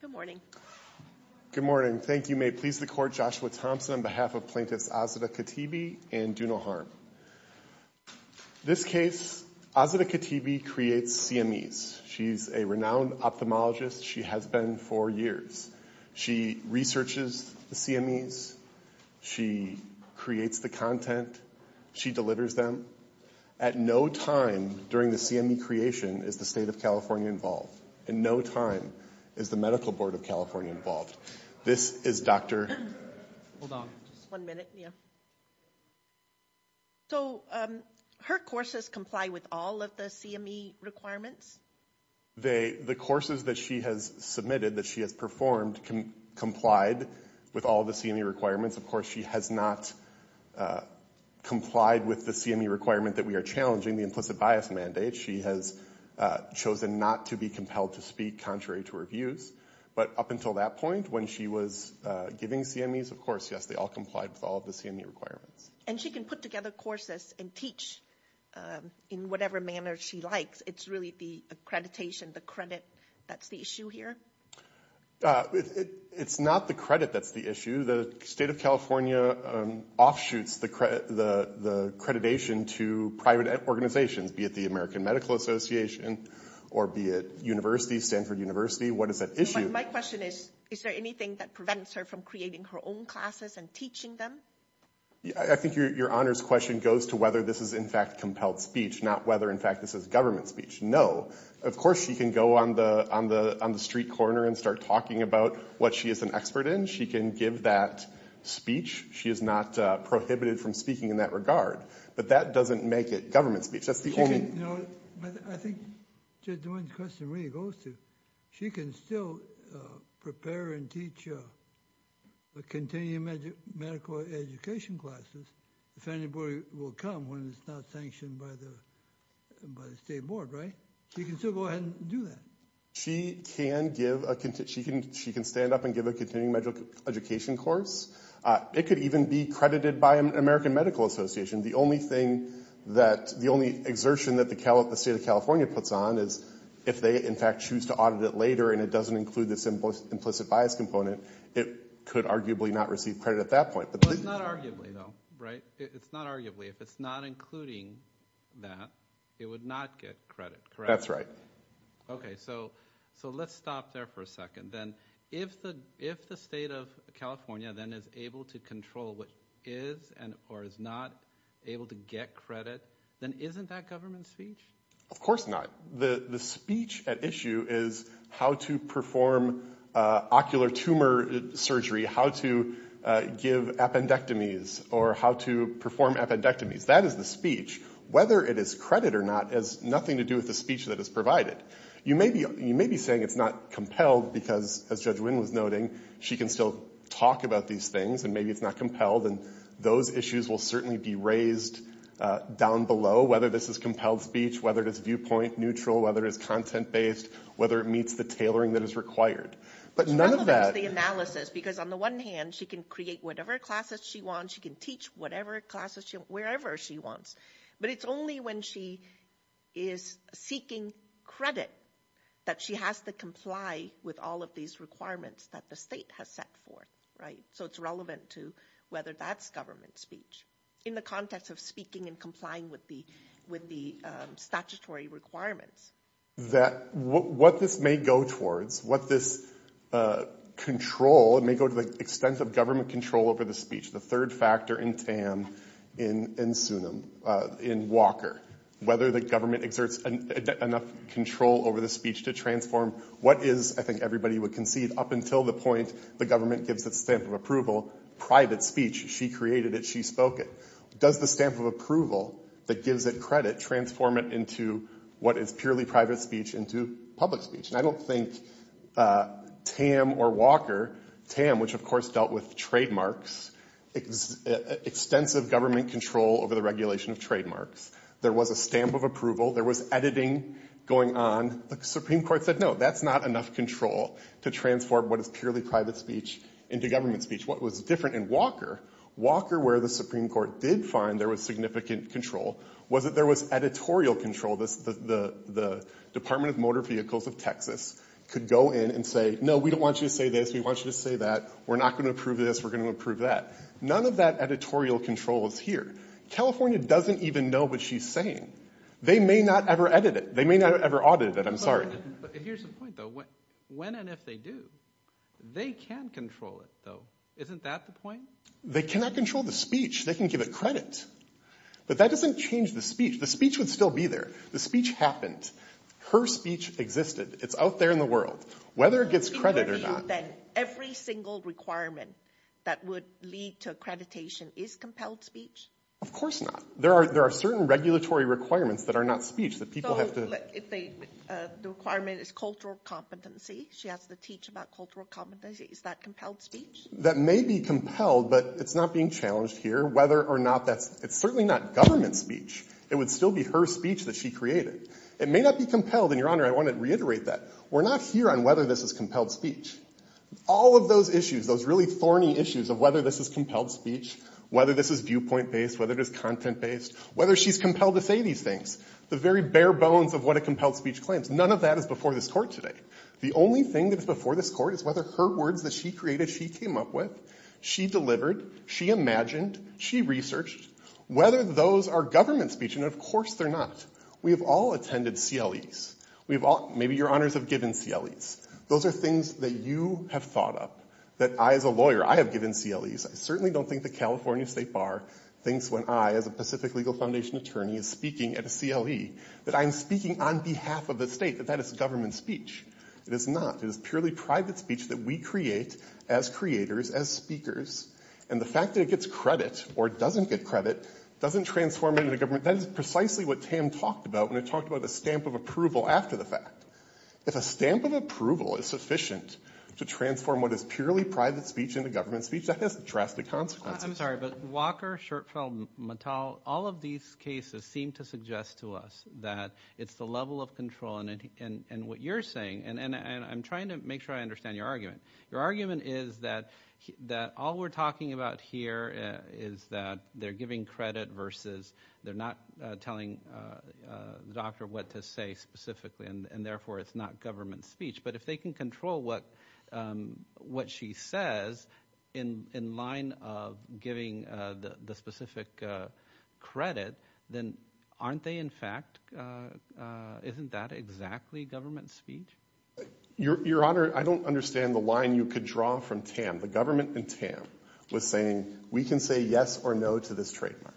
Good morning. Good morning. Thank you. May it please the Court, Joshua Thompson on behalf of Plaintiffs Azadeh Khatibi and Dunal Harm. This case, Azadeh Khatibi creates CMEs. She's a renowned ophthalmologist. She has been for years. She researches the CMEs. She creates the content. She delivers them. At no time during the CME creation is the State of California involved. And no time is the Medical Board of California involved. This is Dr. Hold on. One minute. Yeah. So her courses comply with all of the CME requirements? The courses that she has submitted, that she has performed, complied with all the CME requirements. Of course, she has not complied with the CME requirement that we are challenging, the implicit bias mandate. She has chosen not to be compelled to speak contrary to her views. But up until that point when she was giving CMEs, of course, yes, they all complied with all of the CME requirements. And she can put together courses and teach in whatever manner she likes. It's really the accreditation, the credit that's the issue here? It's not the credit that's the issue. The State of California offshoots the accreditation to private organizations, be it the American Medical Association or be it university, Stanford University. What is that issue? My question is, is there anything that prevents her from creating her own classes and teaching them? I think your honors question goes to whether this is, in fact, compelled speech, not whether, in fact, this is government speech. No. Of course, she can go on the street corner and start talking about what she is an expert in. She can give that speech. She is not prohibited from speaking in that regard. But that doesn't make it government speech. That's the only— No, but I think the question really goes to, she can still prepare and teach a continuing medical education classes if anybody will come when it's not sanctioned by the State Board, right? She can still go ahead and do that. She can give a—she can stand up and give a continuing medical education course. It could even be credited by an American Medical Association. The only thing that—the only exertion that the State of California puts on is if they, in fact, choose to audit it later and it doesn't include this implicit bias component, it could arguably not receive credit at that point. Well, it's not arguably, though, right? It's not arguably. If it's not including that, it would not get credit, correct? That's right. Okay, so let's stop there for a second. Then if the State of California then is able to control what is and or is not able to get credit, then isn't that government speech? Of course not. The speech at issue is how to perform ocular tumor surgery, how to give appendectomies, or how to perform appendectomies. That is the speech. Whether it is credit or not has nothing to do with the speech that is provided. You may be saying it's not compelled because, as Judge Wynn was noting, she can still talk about these things and maybe it's not compelled, and those issues will certainly be raised down below, whether this is compelled speech, whether it is viewpoint neutral, whether it is content-based, whether it meets the tailoring that is required. But none of that— Because on the one hand, she can create whatever classes she wants. She can teach whatever classes she wants, wherever she wants. But it's only when she is seeking credit that she has to comply with all of these requirements that the state has set forth, right? So it's relevant to whether that's government speech in the context of speaking and complying with the statutory requirements. What this may go towards, what this control—it may go to the extent of government control over the speech, the third factor in TAM, in SUNM, in Walker, whether the government exerts enough control over the speech to transform what is, I think everybody would concede, up until the point the government gives its stamp of approval, private speech, she created it, she spoke it. Does the stamp of approval that gives it credit transform it into what is purely private speech into public speech? And I don't think TAM or Walker—TAM, which of course dealt with trademarks, extensive government control over the regulation of trademarks. There was a stamp of approval. There was editing going on. The Supreme Court said, no, that's not enough control to transform what is purely private speech into government speech. What was different in Walker, Walker where the Supreme Court did find there was significant control, was that there was editorial control. The Department of Motor Vehicles of Texas could go in and say, no, we don't want you to say this. We want you to say that. We're not going to approve this. We're going to approve that. None of that editorial control is here. California doesn't even know what she's saying. They may not ever edit it. They may not ever audit it. I'm sorry. But here's the point, though. When and if they do, they can control it, though. Isn't that the point? They cannot control the speech. They can give it credit. But that doesn't change the speech. The speech would still be there. The speech happened. Her speech existed. It's out there in the world. Whether it gets credit or not— So you're saying that every single requirement that would lead to accreditation is compelled speech? Of course not. There are certain regulatory requirements that are not speech that people have to— The requirement is cultural competency. She has to teach about cultural competency. Is that compelled speech? That may be compelled, but it's not being challenged here whether or not that's— It's certainly not government speech. It would still be her speech that she created. It may not be compelled, and, Your Honor, I want to reiterate that. We're not here on whether this is compelled speech. All of those issues, those really thorny issues of whether this is compelled speech, whether this is viewpoint-based, whether it is content-based, whether she's compelled to say these things, the very bare bones of what a compelled speech claims, none of that is before this court today. The only thing that is before this court is whether her words that she created, she came up with, she delivered, she imagined, she researched, whether those are government speech, and, of course, they're not. We have all attended CLEs. Maybe Your Honors have given CLEs. Those are things that you have thought up, that I, as a lawyer, I have given CLEs. I certainly don't think the California State Bar thinks when I, as a Pacific Legal Foundation attorney, is speaking at a CLE that I'm speaking on behalf of the state, that that is government speech. It is not. It is purely private speech that we create as creators, as speakers, and the fact that it gets credit or doesn't get credit doesn't transform it into government. That is precisely what Tam talked about when I talked about a stamp of approval after the fact. If a stamp of approval is sufficient to transform what is purely private speech into government speech, that has drastic consequences. I'm sorry, but Walker, Schertfeld, Mattel, all of these cases seem to suggest to us that it's the level of control, and what you're saying, and I'm trying to make sure I understand your argument. Your argument is that all we're talking about here is that they're giving credit versus they're not telling the doctor what to say specifically, and, therefore, it's not government speech. But if they can control what she says in line of giving the specific credit, then aren't they, in fact, isn't that exactly government speech? Your Honor, I don't understand the line you could draw from Tam. The government in Tam was saying we can say yes or no to this trademark.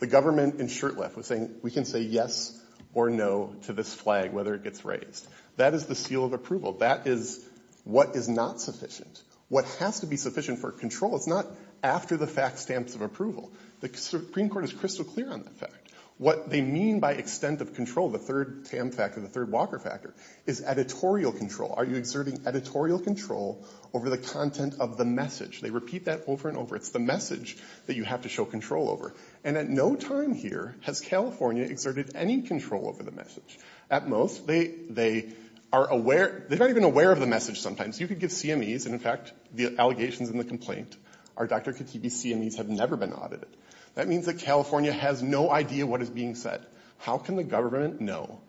The government in Shurtleff was saying we can say yes or no to this flag, whether it gets raised. That is the seal of approval. That is what is not sufficient. What has to be sufficient for control is not after the fact stamps of approval. The Supreme Court is crystal clear on that fact. What they mean by extent of control, the third Tam factor, the third Walker factor, is editorial control. Are you exerting editorial control over the content of the message? They repeat that over and over. It's the message that you have to show control over. And at no time here has California exerted any control over the message. At most, they are aware, they're not even aware of the message sometimes. You could give CMEs, and, in fact, the allegations in the complaint are Dr. Katibi's CMEs have never been audited. That means that California has no idea what is being said. How can the government know?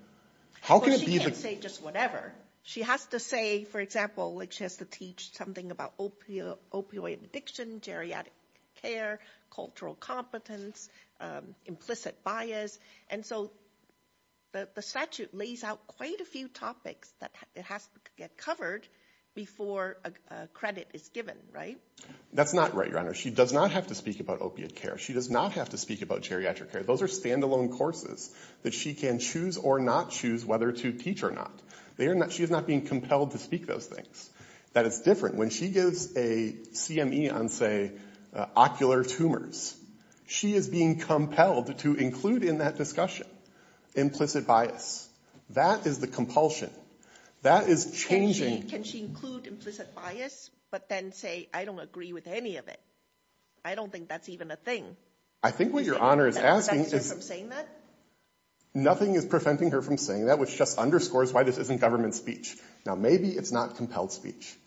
How can it be the- Well, she can't say just whatever. She has to say, for example, like she has to teach something about opioid addiction, geriatric care, cultural competence, implicit bias. And so the statute lays out quite a few topics that have to get covered before credit is given, right? That's not right, Your Honor. She does not have to speak about opiate care. She does not have to speak about geriatric care. Those are standalone courses that she can choose or not choose whether to teach or not. She is not being compelled to speak those things. That is different. When she gives a CME on, say, ocular tumors, she is being compelled to include in that discussion implicit bias. That is the compulsion. That is changing- Can she include implicit bias but then say, I don't agree with any of it? I don't think that's even a thing. I think what Your Honor is asking is- Does that prevent her from saying that? Nothing is preventing her from saying that, which just underscores why this isn't government speech. Now, maybe it's not compelled speech.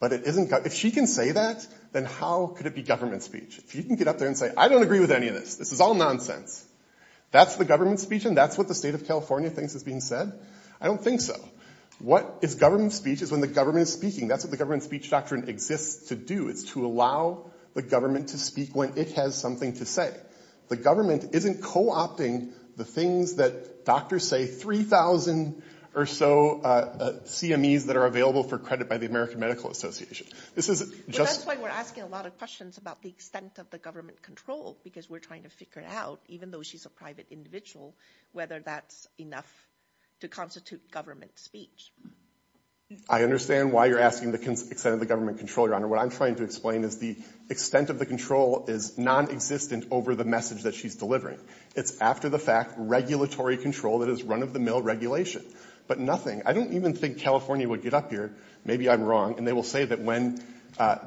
But if she can say that, then how could it be government speech? If she can get up there and say, I don't agree with any of this. This is all nonsense. That's the government speech and that's what the state of California thinks is being said? I don't think so. What is government speech is when the government is speaking. That's what the government speech doctrine exists to do. It's to allow the government to speak when it has something to say. The government isn't co-opting the things that doctors say 3,000 or so CMEs that are available for credit by the American Medical Association. This is just- Well, that's why we're asking a lot of questions about the extent of the government control because we're trying to figure out, even though she's a private individual, whether that's enough to constitute government speech. I understand why you're asking the extent of the government control, Your Honor. What I'm trying to explain is the extent of the control is nonexistent over the message that she's delivering. It's after-the-fact regulatory control that is run-of-the-mill regulation, but nothing. I don't even think California would get up here. Maybe I'm wrong, and they will say that when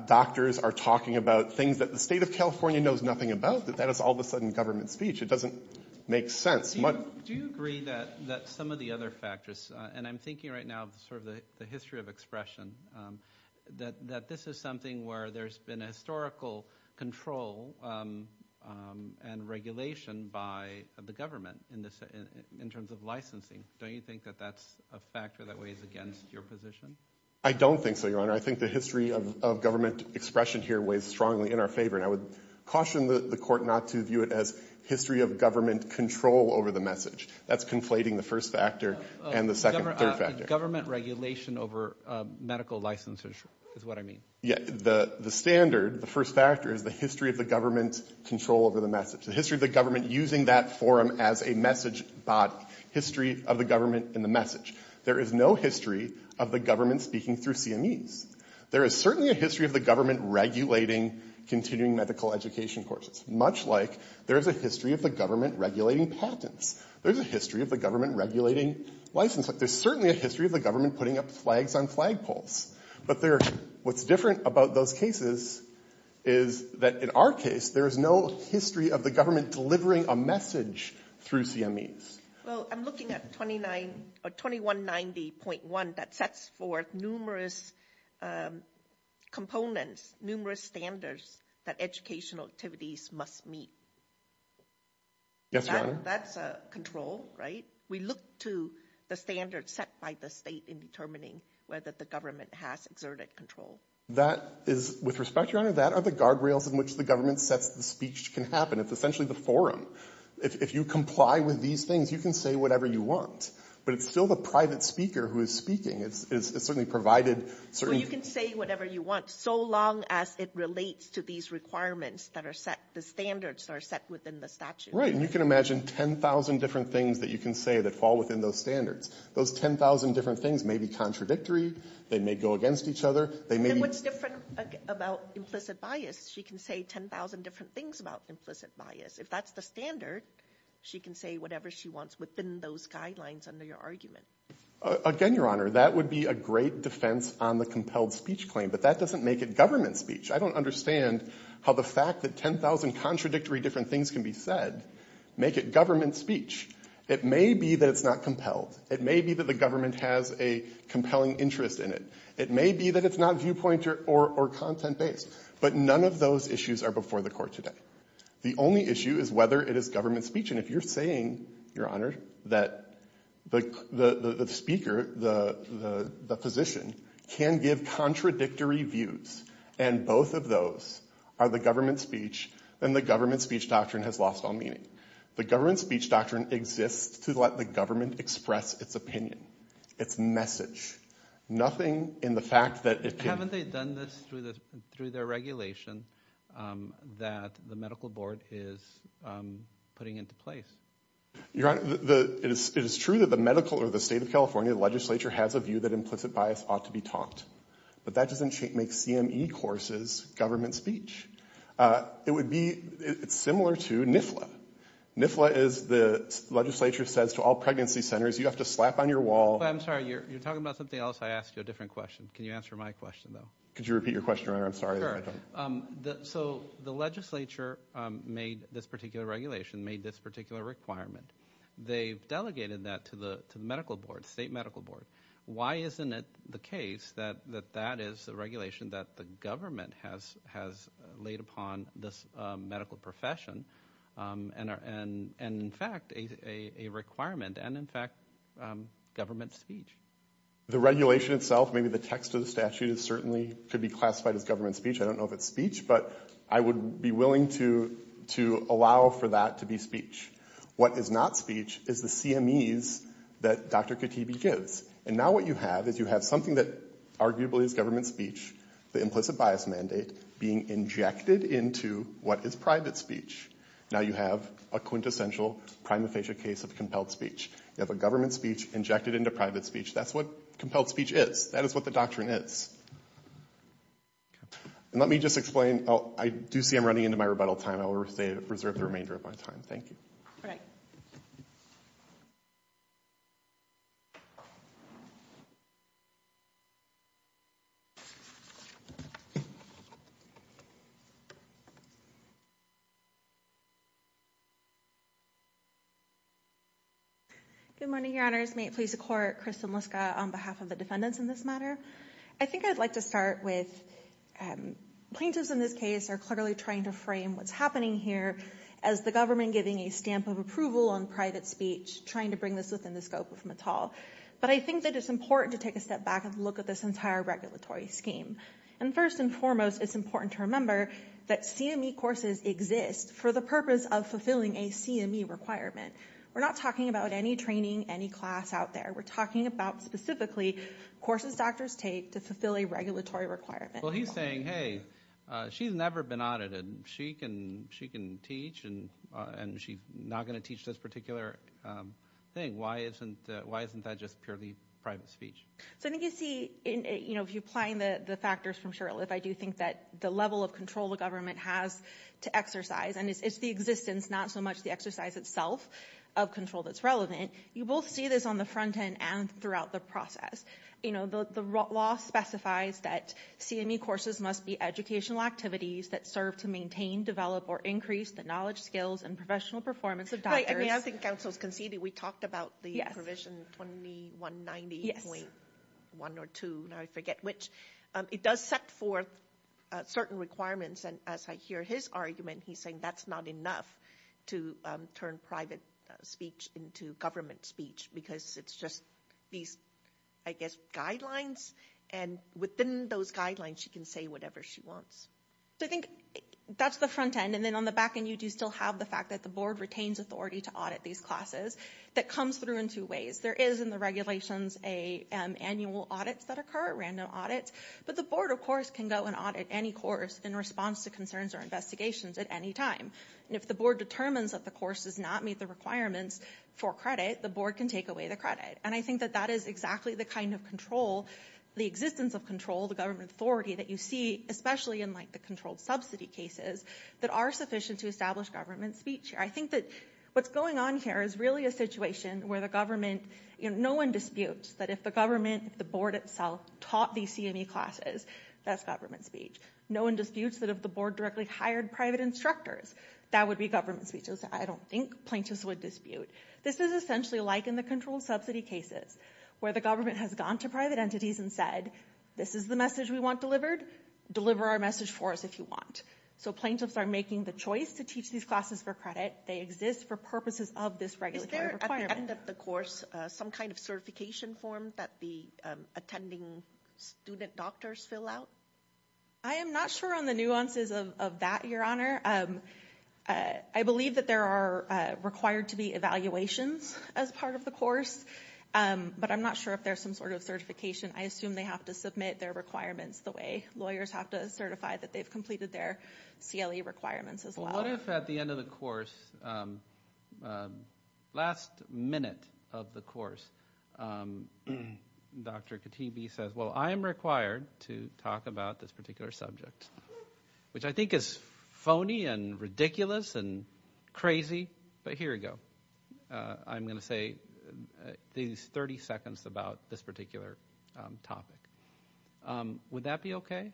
doctors are talking about things that the state of California knows nothing about, that that is all of a sudden government speech. It doesn't make sense. Do you agree that some of the other factors, and I'm thinking right now of sort of the history of expression, that this is something where there's been historical control and regulation by the government in terms of licensing? Don't you think that that's a factor that weighs against your position? I don't think so, Your Honor. I think the history of government expression here weighs strongly in our favor, and I would caution the court not to view it as history of government control over the message. That's conflating the first factor and the second-third factor. Government regulation over medical licenses is what I mean. Yeah, the standard, the first factor, is the history of the government's control over the message, the history of the government using that forum as a message body, history of the government in the message. There is no history of the government speaking through CMEs. There is certainly a history of the government regulating continuing medical education courses, much like there is a history of the government regulating patents. There is a history of the government regulating licenses. There is certainly a history of the government putting up flags on flagpoles. But what's different about those cases is that in our case, there is no history of the government delivering a message through CMEs. Well, I'm looking at 2190.1 that sets forth numerous components, numerous standards that educational activities must meet. Yes, Your Honor. That's a control, right? We look to the standards set by the state in determining whether the government has exerted control. That is, with respect, Your Honor, that are the guardrails in which the government sets the speech can happen. It's essentially the forum. If you comply with these things, you can say whatever you want. But it's still the private speaker who is speaking. It's certainly provided certain things. So you can say whatever you want so long as it relates to these requirements that are set, the standards that are set within the statute. Right. And you can imagine 10,000 different things that you can say that fall within those standards. Those 10,000 different things may be contradictory. They may go against each other. They may be — And what's different about implicit bias? She can say 10,000 different things about implicit bias. If that's the standard, she can say whatever she wants within those guidelines under your argument. Again, Your Honor, that would be a great defense on the compelled speech claim. But that doesn't make it government speech. I don't understand how the fact that 10,000 contradictory different things can be said make it government speech. It may be that it's not compelled. It may be that the government has a compelling interest in it. It may be that it's not viewpoint or content-based. But none of those issues are before the court today. The only issue is whether it is government speech. If you're saying, Your Honor, that the speaker, the physician, can give contradictory views, and both of those are the government speech, then the government speech doctrine has lost all meaning. The government speech doctrine exists to let the government express its opinion, its message. Nothing in the fact that it can — They've done this through their regulation that the medical board is putting into place. Your Honor, it is true that the medical or the state of California legislature has a view that implicit bias ought to be taught. But that doesn't make CME courses government speech. It would be similar to NIFLA. NIFLA is the legislature says to all pregnancy centers, you have to slap on your wall — I'm sorry, you're talking about something else. I asked you a different question. Can you answer my question, though? Could you repeat your question, Your Honor? I'm sorry. So the legislature made this particular regulation, made this particular requirement. They've delegated that to the medical board, state medical board. Why isn't it the case that that is the regulation that the government has laid upon this medical profession and, in fact, a requirement and, in fact, government speech? The regulation itself, maybe the text of the statute certainly could be classified as government speech. I don't know if it's speech, but I would be willing to allow for that to be speech. What is not speech is the CMEs that Dr. Katibi gives. And now what you have is you have something that arguably is government speech, the implicit bias mandate, being injected into what is private speech. Now you have a quintessential prima facie case of compelled speech. You have a government speech injected into private speech. That's what compelled speech is. That is what the doctrine is. And let me just explain. I do see I'm running into my rebuttal time. I will reserve the remainder of my time. Thank you. All right. Good morning, Your Honors. May it please the Court, Kristen Liska on behalf of the defendants in this matter. I think I'd like to start with plaintiffs in this case are clearly trying to frame what's happening here as the government giving a stamp of approval on private speech, trying to bring this within the scope of Mittal. But I think that it's important to take a step back and look at this entire regulatory scheme. And first and foremost, it's important to remember that CME courses exist for the purpose of fulfilling a CME requirement. We're not talking about any training, any class out there. We're talking about specifically courses doctors take to fulfill a regulatory requirement. Well, he's saying, hey, she's never been audited. She can teach and she's not going to teach this particular thing. Why isn't that just purely private speech? So I think you see, you know, if you're applying the factors from Shurtleff, I do think that the level of control the government has to exercise, and it's the existence, not so much the exercise itself of control that's relevant. You both see this on the front end and throughout the process. You know, the law specifies that CME courses must be educational activities that serve to maintain, develop, or increase the knowledge, skills, and professional performance of doctors. I mean, I think counsel's conceded. We talked about the provision 2190.1 or 2, now I forget which. It does set forth certain requirements. And as I hear his argument, he's saying that's not enough to turn private speech into government speech because it's just these, I guess, guidelines. And within those guidelines, she can say whatever she wants. So I think that's the front end. And then on the back end, you do still have the fact that the board retains authority to audit these classes. That comes through in two ways. There is in the regulations annual audits that occur, random audits. But the board, of course, can go and audit any course in response to concerns or investigations at any time. And if the board determines that the course does not meet the requirements for credit, the board can take away the credit. And I think that that is exactly the kind of control, the existence of control, the government authority that you see, especially in like the controlled subsidy cases, that are sufficient to establish government speech here. I think that what's going on here is really a situation where the government, you know, no one disputes that if the government, the board itself, taught these CME classes, that's government speech. No one disputes that if the board directly hired private instructors, that would be government speech. I don't think plaintiffs would dispute. This is essentially like in the controlled subsidy cases, where the government has gone to private entities and said, this is the message we want delivered, deliver our message for us if you want. So plaintiffs are making the choice to teach these classes for credit. They exist for purposes of this regulatory requirement. At the end of the course, some kind of certification form that the attending student doctors fill out? I am not sure on the nuances of that, Your Honor. I believe that there are required to be evaluations as part of the course, but I'm not sure if there's some sort of certification. I assume they have to submit their requirements the way lawyers have to certify that they've completed their CLE requirements as well. What if at the end of the course, last minute of the course, Dr. Katibi says, well, I am required to talk about this particular subject, which I think is phony and ridiculous and crazy, but here you go. I'm going to say these 30 seconds about this particular topic. Would that be okay?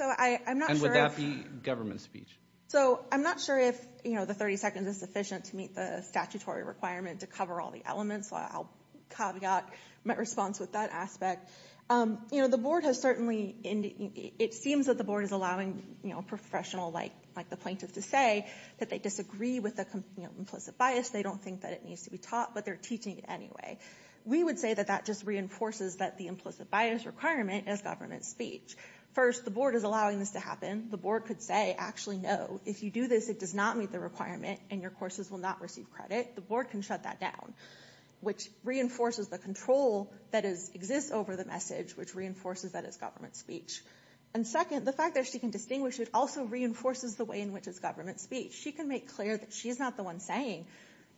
And would that be government speech? I'm not sure if the 30 seconds is sufficient to meet the statutory requirement to cover all the elements. I'll caveat my response with that aspect. It seems that the board is allowing a professional like the plaintiff to say that they disagree with the implicit bias. They don't think that it needs to be taught, but they're teaching it anyway. We would say that that just reinforces that the implicit bias requirement is government speech. First, the board is allowing this to happen. The board could say, actually, no, if you do this, it does not meet the requirement and your courses will not receive credit. The board can shut that down, which reinforces the control that exists over the message, which reinforces that it's government speech. And second, the fact that she can distinguish it also reinforces the way in which it's government speech. She can make clear that she's not the one saying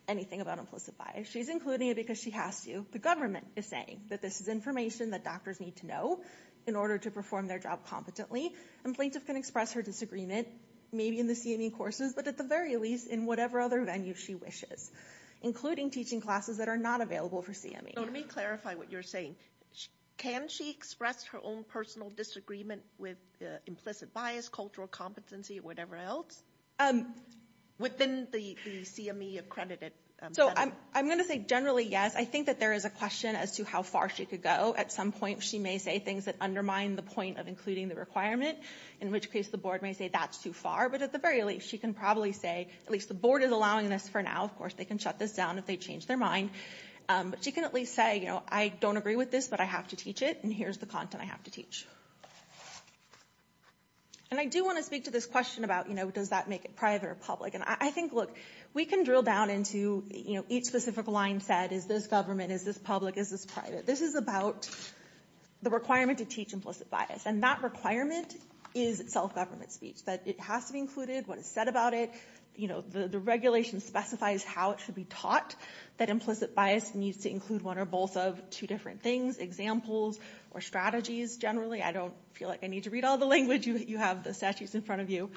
anything about implicit bias. She's including it because she has to. The government is saying that this is information that doctors need to know in order to perform their job competently. And plaintiff can express her disagreement, maybe in the CME courses, but at the very least, in whatever other venue she wishes, including teaching classes that are not available for CME. Let me clarify what you're saying. Can she express her own personal disagreement with implicit bias, cultural competency, or whatever else within the CME accredited venue? So I'm going to say generally, yes. I think that there is a question as to how far she could go. At some point, she may say things that undermine the point of including the requirement, in which case the board may say that's too far. But at the very least, she can probably say, at least the board is allowing this for now. Of course, they can shut this down if they change their mind. But she can at least say, you know, I don't agree with this, but I have to teach it, and here's the content I have to teach. And I do want to speak to this question about, you know, does that make it private or public? And I think, look, we can drill down into each specific line set. Is this government? Is this public? Is this private? This is about the requirement to teach implicit bias. And that requirement is self-government speech, that it has to be included, what is said about it. You know, the regulation specifies how it should be taught that implicit bias needs to include one or both of two different things, examples or strategies generally. I don't feel like I need to read all the language. You have the statutes in front of you.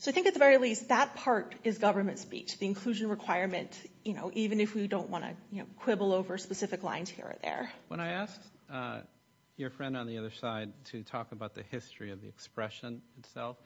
So I think at the very least that part is government speech, the inclusion requirement, you know, even if we don't want to quibble over specific lines here or there. When I asked your friend on the other side to talk about the history of the expression itself,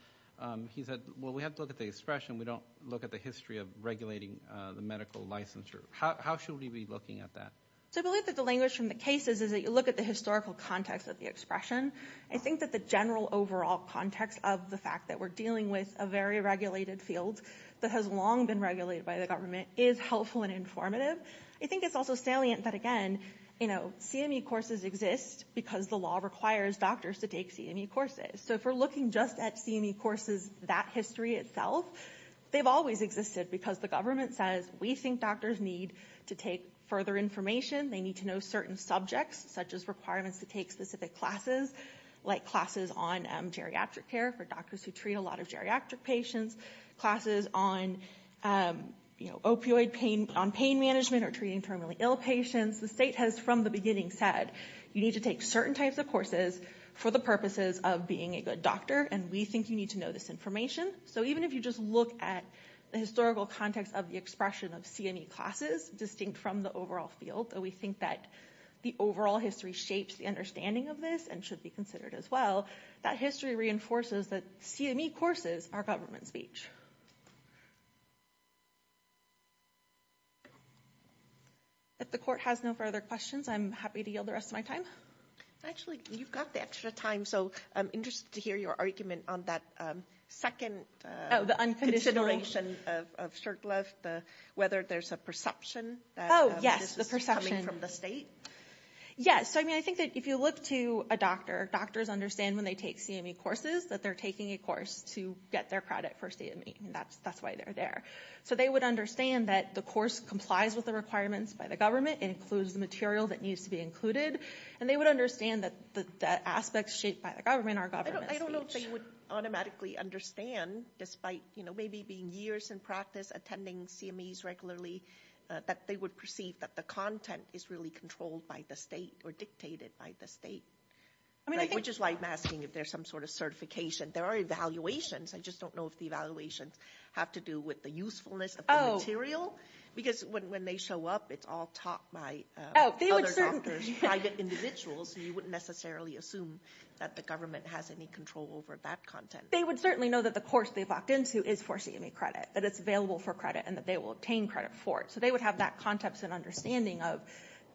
he said, well, we have to look at the expression. We don't look at the history of regulating the medical licensure. How should we be looking at that? So I believe that the language from the cases is that you look at the historical context of the expression. I think that the general overall context of the fact that we're dealing with a very regulated field that has long been regulated by the government is helpful and informative. I think it's also salient that, again, you know, CME courses exist because the law requires doctors to take CME courses. So if we're looking just at CME courses, that history itself, they've always existed because the government says we think doctors need to take further information. They need to know certain subjects, such as requirements to take specific classes, like classes on geriatric care for doctors who treat a lot of geriatric patients, classes on, you know, opioid pain on pain management or treating terminally ill patients. The state has from the beginning said you need to take certain types of courses for the purposes of being a good doctor, and we think you need to know this information. So even if you just look at the historical context of the expression of CME classes distinct from the overall field, we think that the overall history shapes the understanding of this and should be considered as well. That history reinforces that CME courses are government speech. If the court has no further questions, I'm happy to yield the rest of my time. Actually, you've got the extra time, so I'm interested to hear your argument on that second consideration of Shurtleff, whether there's a perception. Oh, yes, the perception. Coming from the state. Yes, I mean, I think that if you look to a doctor, doctors understand when they take CME courses that they're taking a course to get their credit for CME. That's why they're there. So they would understand that the course complies with the requirements by the government and includes the material that needs to be included, and they would understand that the aspects shaped by the government are government speech. I don't know if they would automatically understand, despite maybe being years in practice attending CMEs regularly, that they would perceive that the content is really controlled by the state or dictated by the state, which is why I'm asking if there's some sort of certification. There are evaluations. I just don't know if the evaluations have to do with the usefulness of the material. Because when they show up, it's all taught by other doctors, private individuals, and you wouldn't necessarily assume that the government has any control over that content. They would certainly know that the course they've walked into is for CME credit, that it's available for credit, and that they will obtain credit for it. So they would have that context and understanding of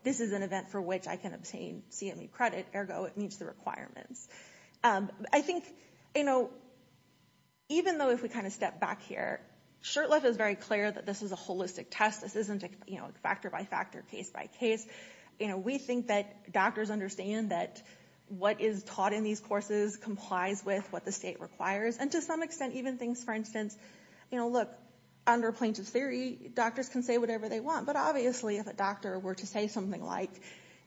this is an event for which I can obtain CME credit, ergo it meets the requirements. I think, you know, even though if we kind of step back here, Shurtleff is very clear that this is a holistic test. This isn't, you know, factor by factor, case by case. You know, we think that doctors understand that what is taught in these courses complies with what the state requires, and to some extent, even things, for instance, you know, look, under plaintiff's theory, doctors can say whatever they want. But obviously, if a doctor were to say something like,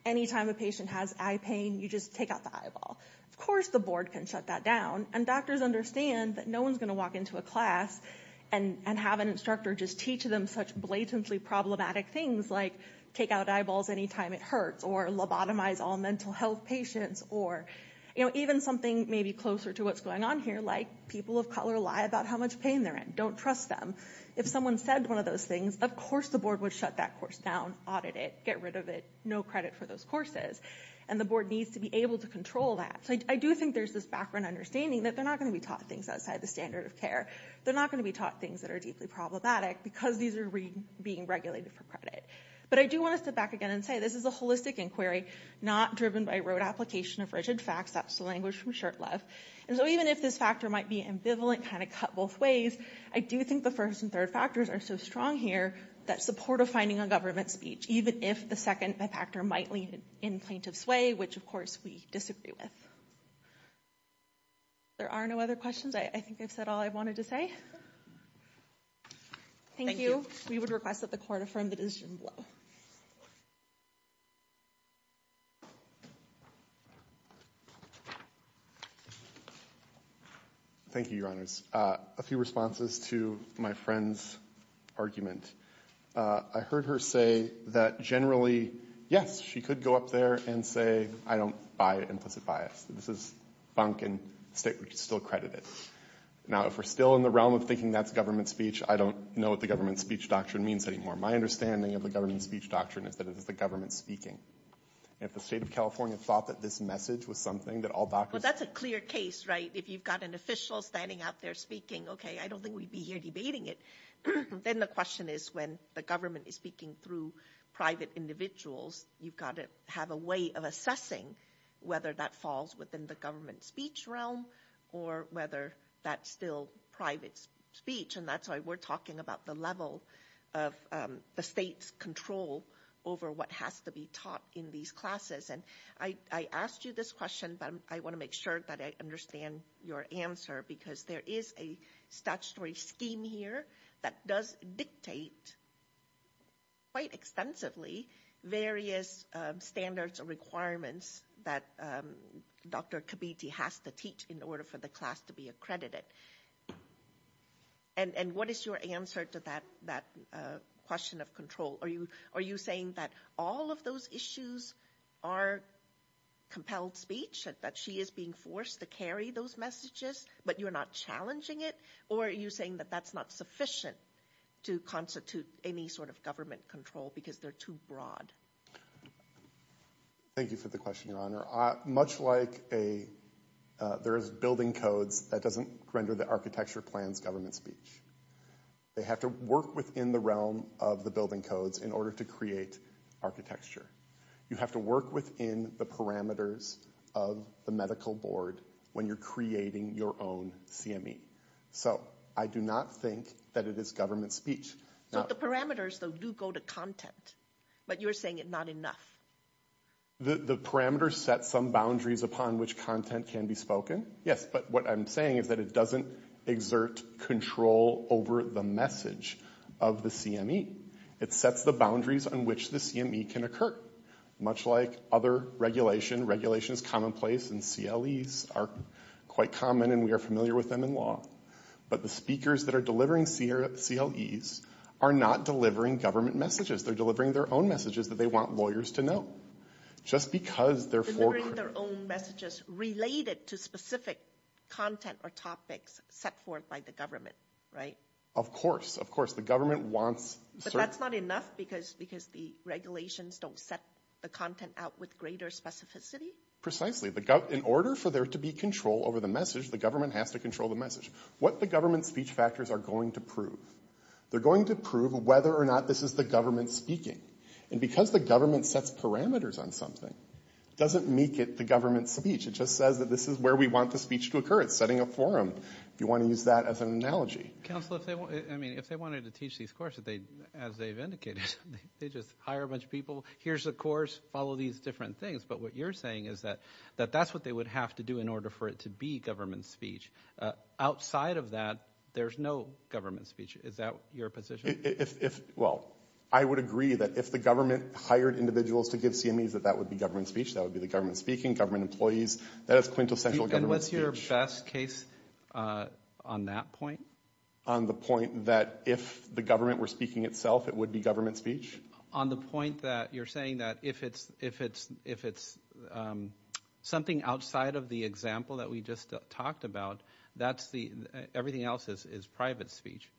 any time a patient has eye pain, you just take out the eyeball. Of course, the board can shut that down, and doctors understand that no one's going to walk into a class and have an instructor just teach them such blatantly problematic things like take out eyeballs any time it hurts, or lobotomize all mental health patients, or, you know, even something maybe closer to what's going on here, like people of color lie about how much pain they're in, don't trust them. If someone said one of those things, of course the board would shut that course down, audit it, get rid of it, no credit for those courses, and the board needs to be able to control that. So I do think there's this background understanding that they're not going to be taught things outside the standard of care. They're not going to be taught things that are deeply problematic because these are being regulated for credit. But I do want to step back again and say this is a holistic inquiry, not driven by road application of rigid facts. That's the language from Shurtleff. And so even if this factor might be ambivalent, kind of cut both ways, I do think the first and third factors are so strong here, that support of finding a government speech, even if the second factor might lead in plaintiff's way, which of course we disagree with. If there are no other questions, I think I've said all I wanted to say. Thank you. We would request that the court affirm the decision below. Thank you, Your Honors. A few responses to my friend's argument. I heard her say that generally, yes, she could go up there and say, I don't buy implicit bias. This is bunk and still credit it. Now, if we're still in the realm of thinking that's government speech, I don't know what the government speech doctrine means anymore. My understanding of the government speech doctrine is that it is the government speaking. And if the state of California thought that this message was something that all doctors... Well, that's a clear case, right? If you've got an official standing out there speaking, okay, I don't think we'd be here debating it. Then the question is when the government is speaking through private individuals, you've got to have a way of assessing whether that falls within the government speech realm or whether that's still private speech. And that's why we're talking about the level of the state's control over what has to be taught in these classes. And I asked you this question, but I want to make sure that I understand your answer, because there is a statutory scheme here that does dictate quite extensively various standards or requirements that Dr. Kabiti has to teach in order for the class to be accredited. And what is your answer to that question of control? Are you saying that all of those issues are compelled speech, that she is being forced to carry those messages, but you're not challenging it? Or are you saying that that's not sufficient to constitute any sort of government control because they're too broad? Thank you for the question, Your Honor. Much like there is building codes that doesn't render the architecture plans government speech. They have to work within the realm of the building codes in order to create architecture. You have to work within the parameters of the medical board when you're creating your own CME. So I do not think that it is government speech. So the parameters, though, do go to content, but you're saying it's not enough. The parameters set some boundaries upon which content can be spoken. Yes, but what I'm saying is that it doesn't exert control over the message of the CME. It sets the boundaries on which the CME can occur, much like other regulation. Regulations commonplace and CLEs are quite common, and we are familiar with them in law. But the speakers that are delivering CLEs are not delivering government messages. They're delivering their own messages that they want lawyers to know. Just because they're forecourt. Delivering their own messages related to specific content or topics set forth by the government, right? Of course, of course. The government wants certain... But that's not enough because the regulations don't set the content out with greater specificity? Precisely. In order for there to be control over the message, the government has to control the message. What the government's speech factors are going to prove, they're going to prove whether or not this is the government speaking. And because the government sets parameters on something, it doesn't make it the government's speech. It just says that this is where we want the speech to occur. It's setting a forum, if you want to use that as an analogy. Counsel, if they wanted to teach these courses, as they've indicated, they just hire a bunch of people, here's a course, follow these different things. But what you're saying is that that's what they would have to do in order for it to be government speech. Outside of that, there's no government speech. Is that your position? Well, I would agree that if the government hired individuals to give CMEs, that that would be government speech. That would be the government speaking, government employees. That is quintessential government speech. What's your best case on that point? On the point that if the government were speaking itself, it would be government speech? On the point that you're saying that if it's something outside of the example that we just talked about, everything else is private speech.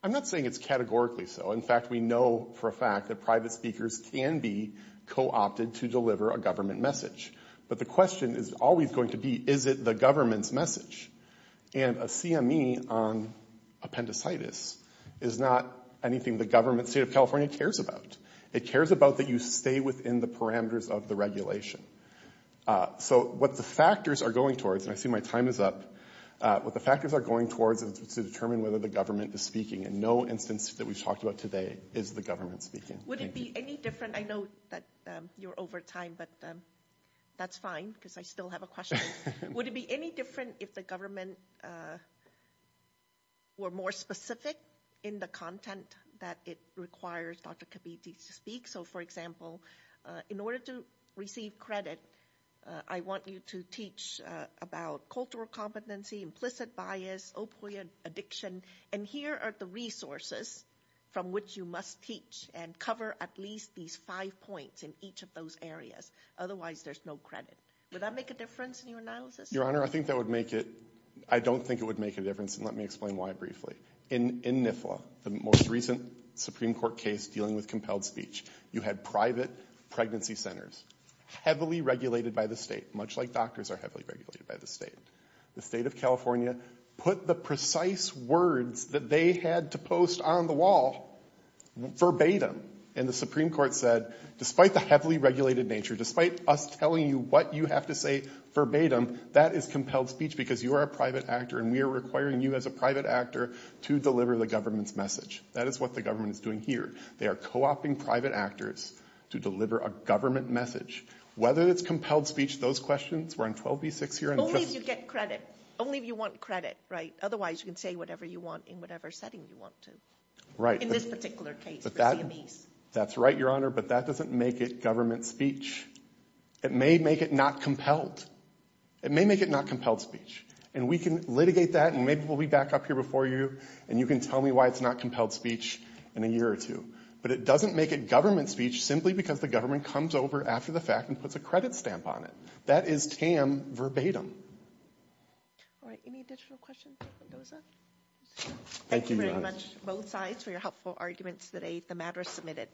I'm not saying it's categorically so. In fact, we know for a fact that private speakers can be co-opted to deliver a government message. But the question is always going to be, is it the government's message? And a CME on appendicitis is not anything the state of California cares about. It cares about that you stay within the parameters of the regulation. So what the factors are going towards, and I see my time is up, what the factors are going towards is to determine whether the government is speaking. And no instance that we've talked about today is the government speaking. Would it be any different? I know that you're over time, but that's fine because I still have a question. Would it be any different if the government were more specific in the content that it requires Dr. Kibiti to speak? So, for example, in order to receive credit, I want you to teach about cultural competency, implicit bias, opioid addiction. And here are the resources from which you must teach and cover at least these five points in each of those areas. Otherwise, there's no credit. Would that make a difference in your analysis? Your Honor, I think that would make it – I don't think it would make a difference, and let me explain why briefly. In NIFLA, the most recent Supreme Court case dealing with compelled speech, you had private pregnancy centers heavily regulated by the state, much like doctors are heavily regulated by the state. The state of California put the precise words that they had to post on the wall verbatim. And the Supreme Court said, despite the heavily regulated nature, despite us telling you what you have to say verbatim, that is compelled speech because you are a private actor and we are requiring you as a private actor to deliver the government's message. That is what the government is doing here. They are co-opting private actors to deliver a government message. Whether it's compelled speech – those questions were on 12b-6 here. Only if you get credit. Only if you want credit, right? Otherwise, you can say whatever you want in whatever setting you want to. Right. In this particular case for CMEs. That's right, Your Honor, but that doesn't make it government speech. It may make it not compelled. It may make it not compelled speech. And we can litigate that, and maybe we'll be back up here before you, and you can tell me why it's not compelled speech in a year or two. But it doesn't make it government speech simply because the government comes over after the fact and puts a credit stamp on it. That is tam verbatim. All right. Any additional questions for Mendoza? Thank you very much to both sides for your helpful arguments today. The matter is submitted.